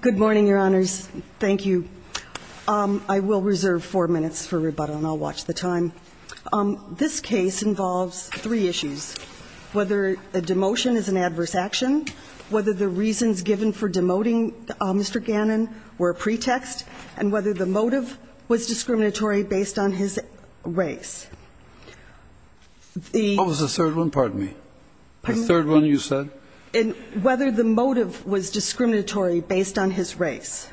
Good morning, Your Honors. Thank you. I will reserve four minutes for rebuttal, and I'll watch the time. This case involves three issues, whether a demotion is an adverse action, whether the reasons given for demoting Mr. Gannon were a pretext, and whether the motive was discriminatory based on his race. What was the third one? Pardon me. The third one you said? Whether the motive was discriminatory based on his race.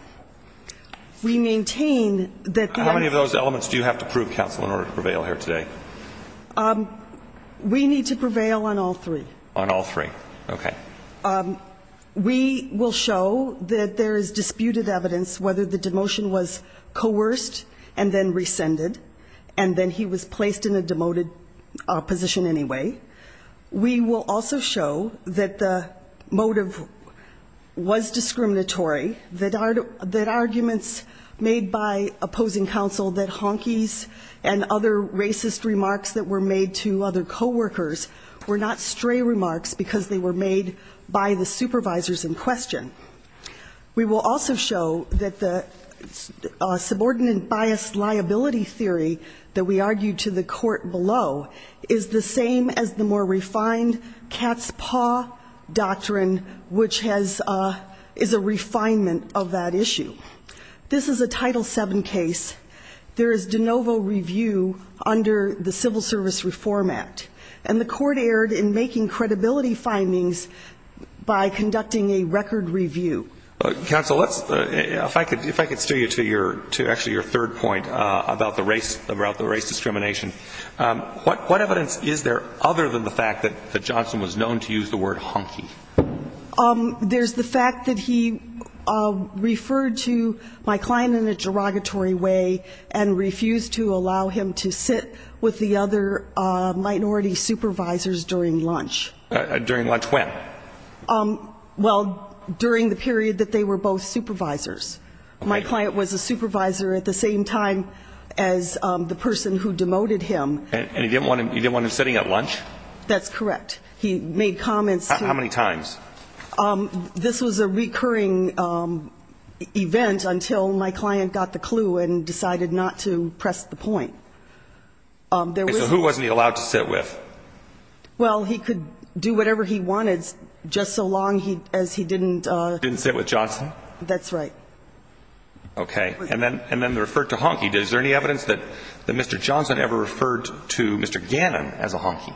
We maintain that the... How many of those elements do you have to prove, Counsel, in order to prevail here today? We need to prevail on all three. On all three. Okay. We will show that there is disputed evidence whether the demotion was coerced and then rescinded, and then he was placed in a demoted position anyway. We will also show that the motive was discriminatory, that arguments made by opposing counsel that Honkey's and other racist remarks that were made to other coworkers were not stray remarks because they were made by the supervisors in question. We will also show that the subordinate bias liability theory that we argued to the court below is the same as the more refined cat's paw doctrine, which is a refinement of that issue. This is a Title VII case. There is de novo review under the Civil Service Reform Act, and the court erred in making credibility findings by conducting a record review. Counsel, if I could steer you to actually your third point about the race discrimination. What evidence is there other than the fact that Johnson was known to use the word Honkey? There's the fact that he referred to my client in a derogatory way and refused to allow him to sit with the other minority supervisors during lunch. During lunch when? Well, during the period that they were both supervisors. My client was a supervisor at the same time as the person who demoted him. And he didn't want him sitting at lunch? That's correct. He made comments. How many times? This was a recurring event until my client got the clue and decided not to press the point. So who wasn't he allowed to sit with? Well, he could do whatever he wanted just so long as he didn't. He didn't sit with Johnson? That's right. Okay. And then referred to Honkey. Is there any evidence that Mr. Johnson ever referred to Mr. Gannon as a Honkey?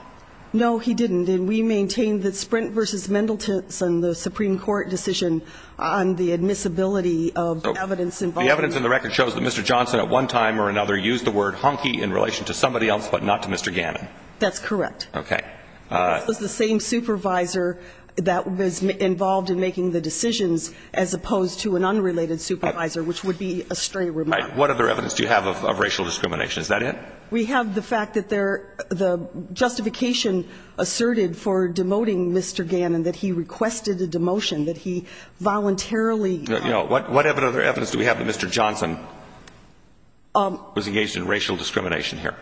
No, he didn't. And we maintain that Sprint v. Mendelton and the Supreme Court decision on the admissibility of evidence. The evidence in the record shows that Mr. Johnson at one time or another used the word Honkey in relation to somebody else but not to Mr. Gannon. That's correct. Okay. This was the same supervisor that was involved in making the decisions as opposed to an unrelated supervisor, which would be a stray remark. What other evidence do you have of racial discrimination? Is that it? We have the fact that the justification asserted for demoting Mr. Gannon, that he requested a demotion, that he voluntarily ---- What other evidence do we have that Mr. Johnson was engaged in racial discrimination here?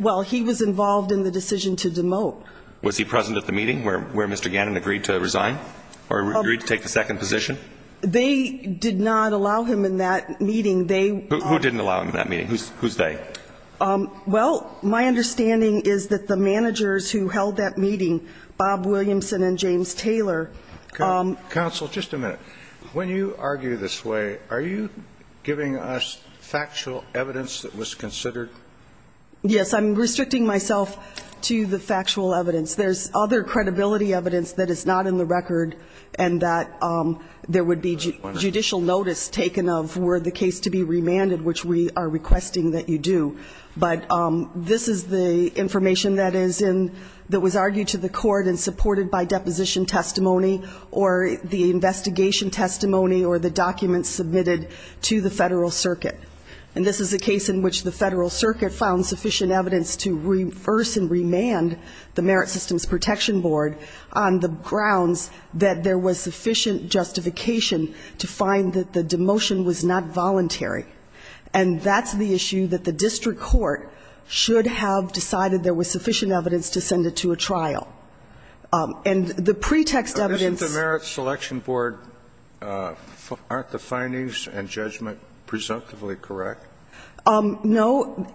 Well, he was involved in the decision to demote. Was he present at the meeting where Mr. Gannon agreed to resign or agreed to take the second position? They did not allow him in that meeting. Who didn't allow him in that meeting? Who's they? Well, my understanding is that the managers who held that meeting, Bob Williamson and James Taylor ---- Counsel, just a minute. When you argue this way, are you giving us factual evidence that was considered ---- Yes, I'm restricting myself to the factual evidence. There's other credibility evidence that is not in the record and that there would be judicial notice taken of were the case to be remanded, which we are requesting that you do. But this is the information that was argued to the court and supported by deposition testimony or the investigation testimony or the documents submitted to the Federal Circuit. And this is a case in which the Federal Circuit found sufficient evidence to reverse and remand the Merit Systems Protection Board on the grounds that there was sufficient justification to find that the demotion was not voluntary. And that's the issue that the district court should have decided there was sufficient evidence to send it to a trial. And the pretext evidence ---- Aren't the findings and judgment presumptively correct? No.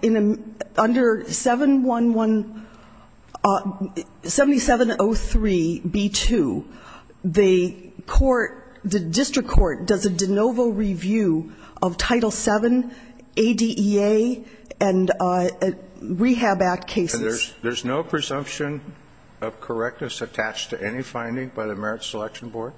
Under 711 ---- 7703b2, the court, the district court does a de novo review of Title VII, ADEA, and Rehab Act cases. And there's no presumption of correctness attached to any finding by the Merit Selection Board?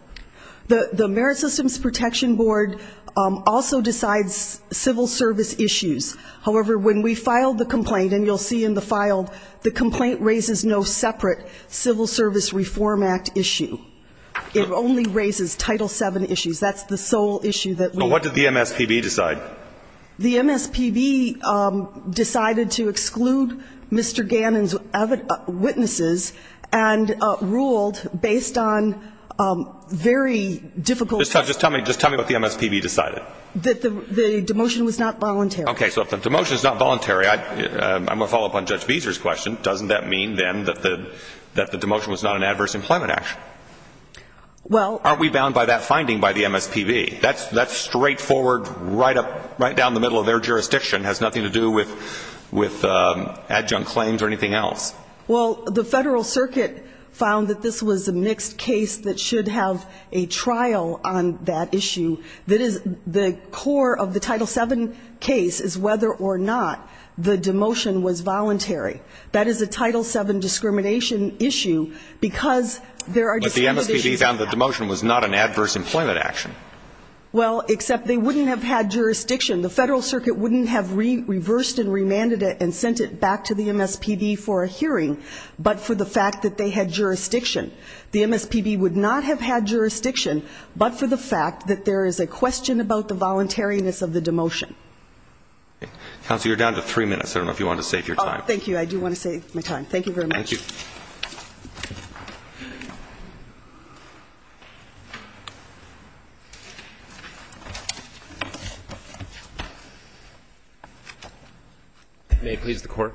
The Merit Systems Protection Board also decides civil service issues. However, when we filed the complaint, and you'll see in the file, the complaint raises no separate Civil Service Reform Act issue. It only raises Title VII issues. That's the sole issue that we ---- But what did the MSPB decide? The MSPB decided to exclude Mr. Gannon's witnesses and ruled based on very difficult ---- Just tell me what the MSPB decided. That the demotion was not voluntary. Okay. So if the demotion is not voluntary, I'm going to follow up on Judge Beeser's question. Doesn't that mean, then, that the demotion was not an adverse employment action? Well ---- Aren't we bound by that finding by the MSPB? That's straightforward right up, right down the middle of their jurisdiction. It has nothing to do with adjunct claims or anything else. Well, the Federal Circuit found that this was a mixed case that should have a trial on that issue. That is, the core of the Title VII case is whether or not the demotion was voluntary. That is a Title VII discrimination issue because there are different issues ---- Well, except they wouldn't have had jurisdiction. The Federal Circuit wouldn't have reversed and remanded it and sent it back to the MSPB for a hearing but for the fact that they had jurisdiction. The MSPB would not have had jurisdiction but for the fact that there is a question about the voluntariness of the demotion. Okay. Counsel, you're down to three minutes. I don't know if you wanted to save your time. Oh, thank you. I do want to save my time. Thank you very much. Thank you. May it please the Court.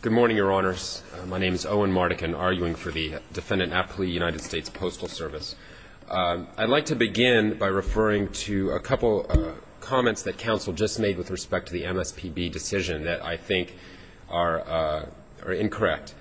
Good morning, Your Honors. My name is Owen Mardikin, arguing for the Defendant Appley United States Postal Service. I'd like to begin by referring to a couple comments that counsel just made with respect to the MSPB decision that I think are incorrect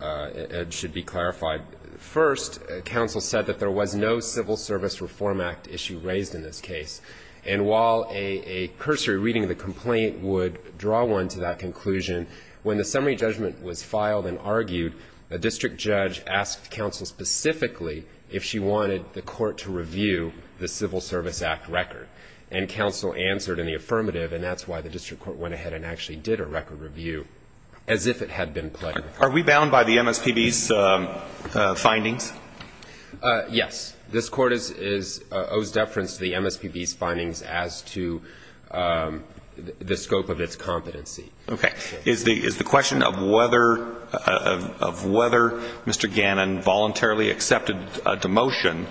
and should be clarified. First, counsel said that there was no Civil Service Reform Act issue raised in this case. And while a cursory reading of the complaint would draw one to that conclusion, when the summary judgment was filed and argued, a district judge asked counsel specifically if she wanted the court to review the Civil Service Act record. And counsel answered in the affirmative, and that's why the district court went ahead and actually did a record review, as if it had been played. Are we bound by the MSPB's findings? Yes. This Court owes deference to the MSPB's findings as to the scope of its competency. Okay. Is the question of whether Mr. Gannon voluntarily accepted a demotion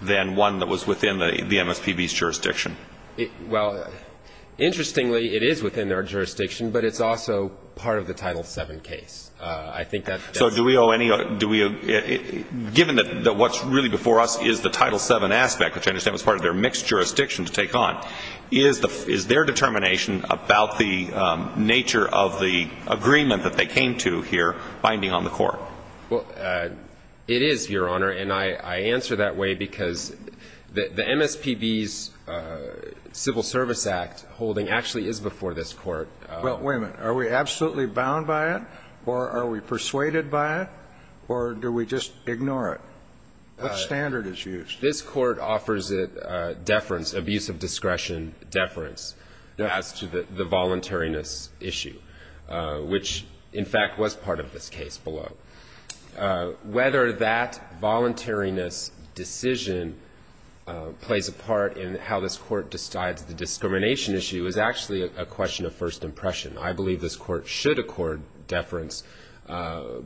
than one that was within the MSPB's jurisdiction? Well, interestingly, it is within their jurisdiction, but it's also part of the Title VII case. I think that's the case. So do we owe any – given that what's really before us is the Title VII aspect, which I understand was part of their mixed jurisdiction to take on, is their determination about the nature of the agreement that they came to here binding on the court? Well, it is, Your Honor. And I answer that way because the MSPB's Civil Service Act holding actually is before this Court. Well, wait a minute. Are we absolutely bound by it, or are we persuaded by it, or do we just ignore it? What standard is used? This Court offers it deference, abuse of discretion deference as to the voluntariness issue, which, in fact, was part of this case below. Whether that voluntariness decision plays a part in how this Court decides the discrimination issue is actually a question of first impression. I believe this Court should accord deference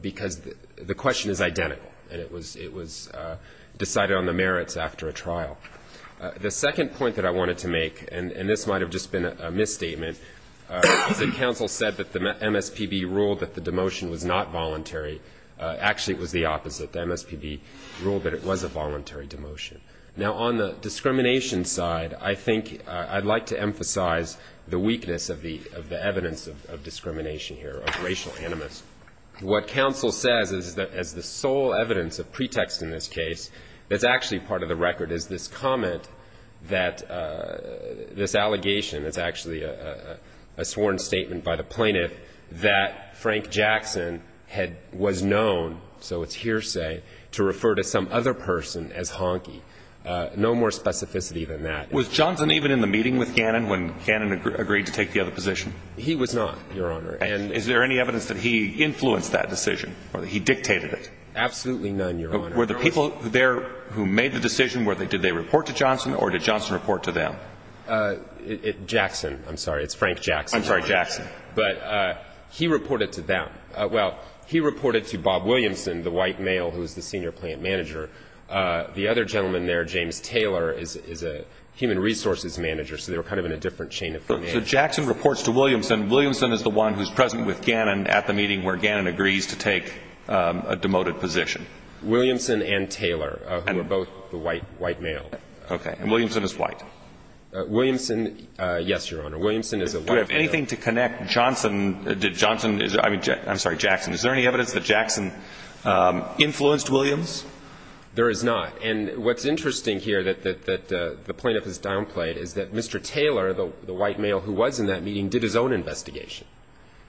because the question is identical, and it was decided on the merits after a trial. The second point that I wanted to make, and this might have just been a misstatement, is that counsel said that the MSPB ruled that the demotion was not voluntary. Actually, it was the opposite. The MSPB ruled that it was a voluntary demotion. Now, on the discrimination side, I think I'd like to emphasize the weakness of the evidence of discrimination here, of racial animus. What counsel says is that as the sole evidence of pretext in this case, that's actually part of the record is this comment that this allegation, it's actually a sworn statement by the plaintiff that Frank Jackson was known, so it's hearsay, to refer to some other person as honky. No more specificity than that. Was Johnson even in the meeting with Gannon when Gannon agreed to take the other position? He was not, Your Honor. And is there any evidence that he influenced that decision or that he dictated it? Absolutely none, Your Honor. Were the people there who made the decision, did they report to Johnson or did Johnson report to them? Jackson. I'm sorry, it's Frank Jackson. I'm sorry, Jackson. But he reported to them. Well, he reported to Bob Williamson, the white male who was the senior plaintiff manager. The other gentleman there, James Taylor, is a human resources manager, so they were kind of in a different chain of command. So Jackson reports to Williamson. Williamson is the one who's present with Gannon at the meeting where Gannon agrees to take a demoted position. Williamson and Taylor, who are both the white male. Okay. And Williamson is white. Williamson, yes, Your Honor. Williamson is a white male. Do we have anything to connect Johnson to Johnson? I mean, I'm sorry, Jackson. Is there any evidence that Jackson influenced Williams? There is not. And what's interesting here that the plaintiff has downplayed is that Mr. Taylor, the white male who was in that meeting, did his own investigation.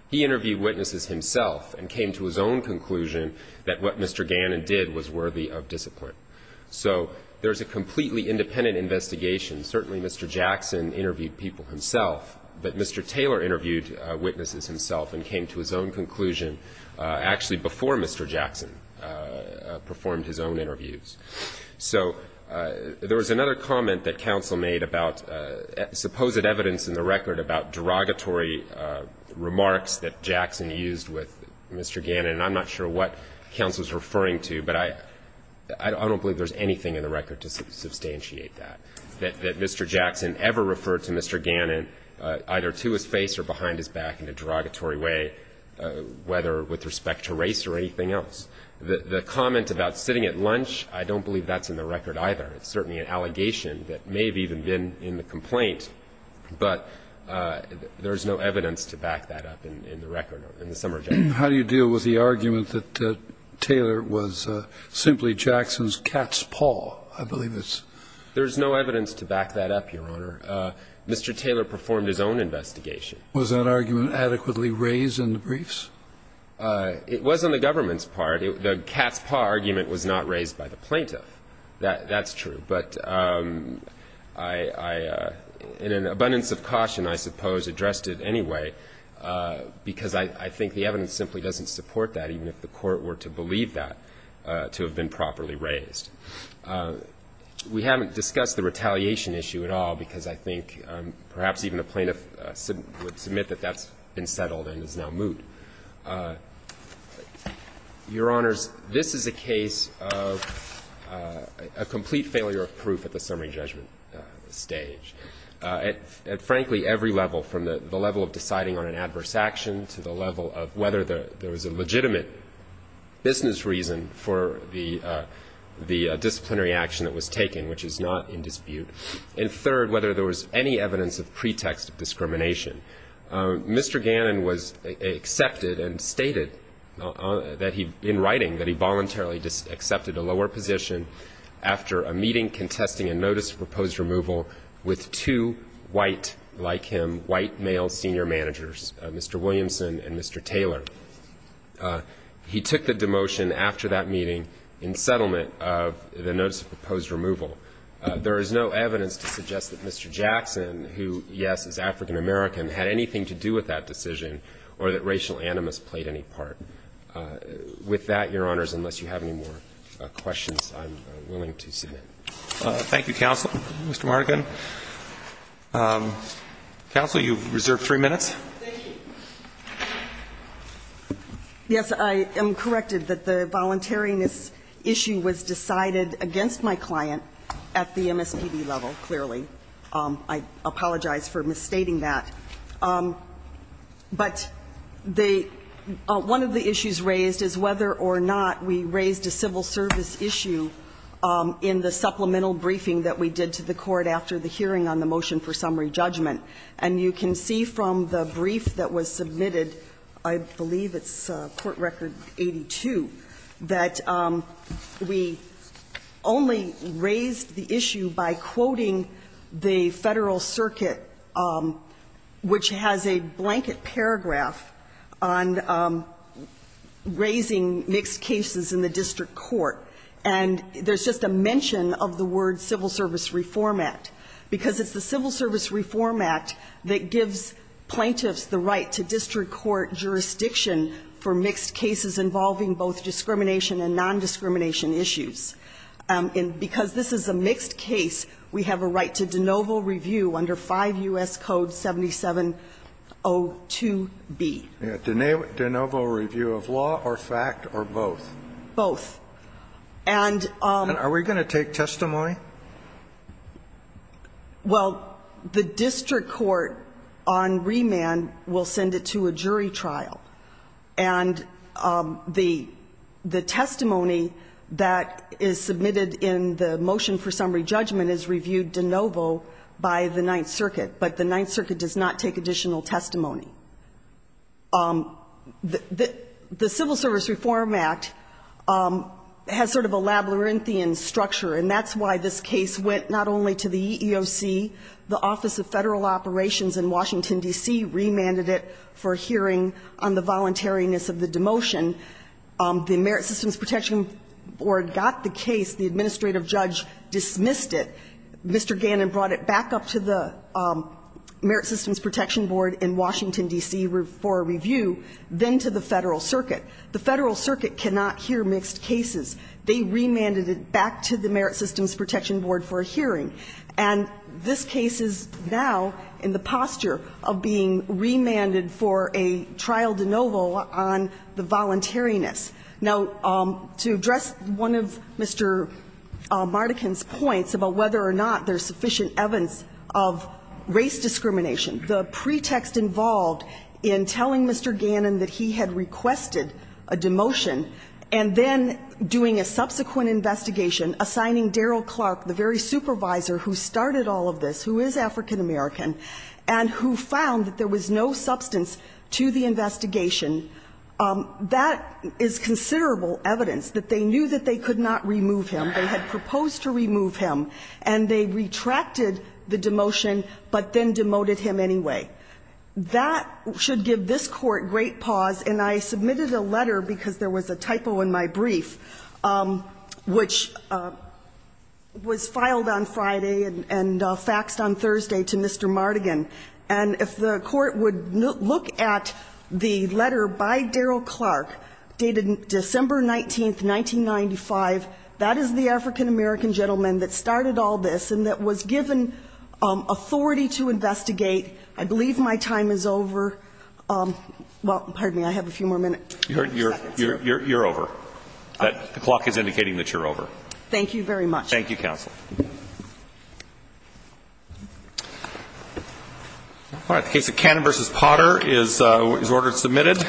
He interviewed witnesses himself and came to his own conclusion that what Mr. Gannon did was worthy of discipline. So there's a completely independent investigation. Certainly Mr. Jackson interviewed people himself, but Mr. Taylor interviewed witnesses himself and came to his own conclusion actually before Mr. Jackson performed his own interviews. So there was another comment that counsel made about supposed evidence in the record about derogatory remarks that Jackson used with Mr. Gannon. And I'm not sure what counsel is referring to, but I don't believe there's anything in the record to substantiate that, that Mr. Jackson ever referred to Mr. Gannon either to his face or behind his back in a derogatory way, whether with respect to race or anything else. The comment about sitting at lunch, I don't believe that's in the record either. It's certainly an allegation that may have even been in the complaint, but there's no evidence to back that up in the record, in the summary judgment. How do you deal with the argument that Taylor was simply Jackson's cat's paw? I believe it's — There's no evidence to back that up, Your Honor. Mr. Taylor performed his own investigation. Was that argument adequately raised in the briefs? It was on the government's part. The cat's paw argument was not raised by the plaintiff. That's true. But I, in an abundance of caution, I suppose, addressed it anyway, because I think the evidence simply doesn't support that, even if the Court were to believe that to have been properly raised. We haven't discussed the retaliation issue at all, because I think perhaps even the plaintiff would submit that that's been settled and is now moot. Your Honors, this is a case of a complete failure of proof at the summary judgment stage. At, frankly, every level, from the level of deciding on an adverse action to the level of whether there was a legitimate business reason for the disciplinary action that was taken, which is not in dispute, and third, whether there was any evidence of pretext of discrimination. Mr. Gannon was accepted and stated in writing that he voluntarily accepted a lower position after a meeting contesting a notice of proposed removal with two white, like him, white male senior managers, Mr. Williamson and Mr. Taylor. He took the demotion after that meeting in settlement of the notice of proposed removal. There is no evidence to suggest that Mr. Jackson, who, yes, is African-American, had anything to do with that decision or that racial animus played any part. With that, Your Honors, unless you have any more questions, I'm willing to submit. Thank you, Counsel. Mr. Marnikin. Counsel, you've reserved three minutes. Thank you. Yes, I am corrected that the voluntariness issue was decided against my client at the MSPB level, clearly. I apologize for misstating that. But the one of the issues raised is whether or not we raised a civil service issue in the supplemental briefing that we did to the court after the hearing on the motion for summary judgment. And you can see from the brief that was submitted, I believe it's court record 82, that we only raised the issue by quoting the Federal Circuit, which has a blanket paragraph on raising mixed cases in the district court. And there's just a mention of the word civil service reform act, because it's the civil service reform act that gives plaintiffs the right to district court jurisdiction for mixed cases involving both discrimination and nondiscrimination issues. And because this is a mixed case, we have a right to de novo review under 5 U.S. Code 7702b. De novo review of law or fact or both? Both. And we're going to take testimony? Well, the district court on remand will send it to a jury trial. And the testimony that is submitted in the motion for summary judgment is reviewed de novo by the Ninth Circuit. But the Ninth Circuit does not take additional testimony. The civil service reform act has sort of a labyrinthian structure, and that's why this case went not only to the EEOC, the Office of Federal Operations in Washington, D.C., remanded it for hearing on the voluntariness of the demotion. The Merit Systems Protection Board got the case. The administrative judge dismissed it. Mr. Gannon brought it back up to the Merit Systems Protection Board in Washington, D.C., for review, then to the Federal Circuit. The Federal Circuit cannot hear mixed cases. They remanded it back to the Merit Systems Protection Board for a hearing. And this case is now in the posture of being remanded for a trial de novo on the voluntariness. Now, to address one of Mr. Mardikin's points about whether or not there's sufficient evidence of race discrimination, the pretext involved in telling Mr. Gannon that he had requested a demotion, and then doing a subsequent investigation, assigning Daryl Clark, the very supervisor who started all of this, who is African American, and who found that there was no substance to the investigation, that is considerable evidence that they knew that they could not remove him, they had proposed to remove him, and they retracted the demotion, but then demoted him anyway. That should give this Court great pause. And I submitted a letter, because there was a typo in my brief, which was filed on Friday and faxed on Thursday to Mr. Mardikin. And if the Court would look at the letter by Daryl Clark, dated December 19, 1995, that is the African American gentleman that started all this and that was given authority to investigate. I believe my time is over. Well, pardon me. I have a few more minutes. You're over. The clock is indicating that you're over. Thank you very much. Thank you, counsel. All right. The case of Gannon v. Potter is ordered submitted.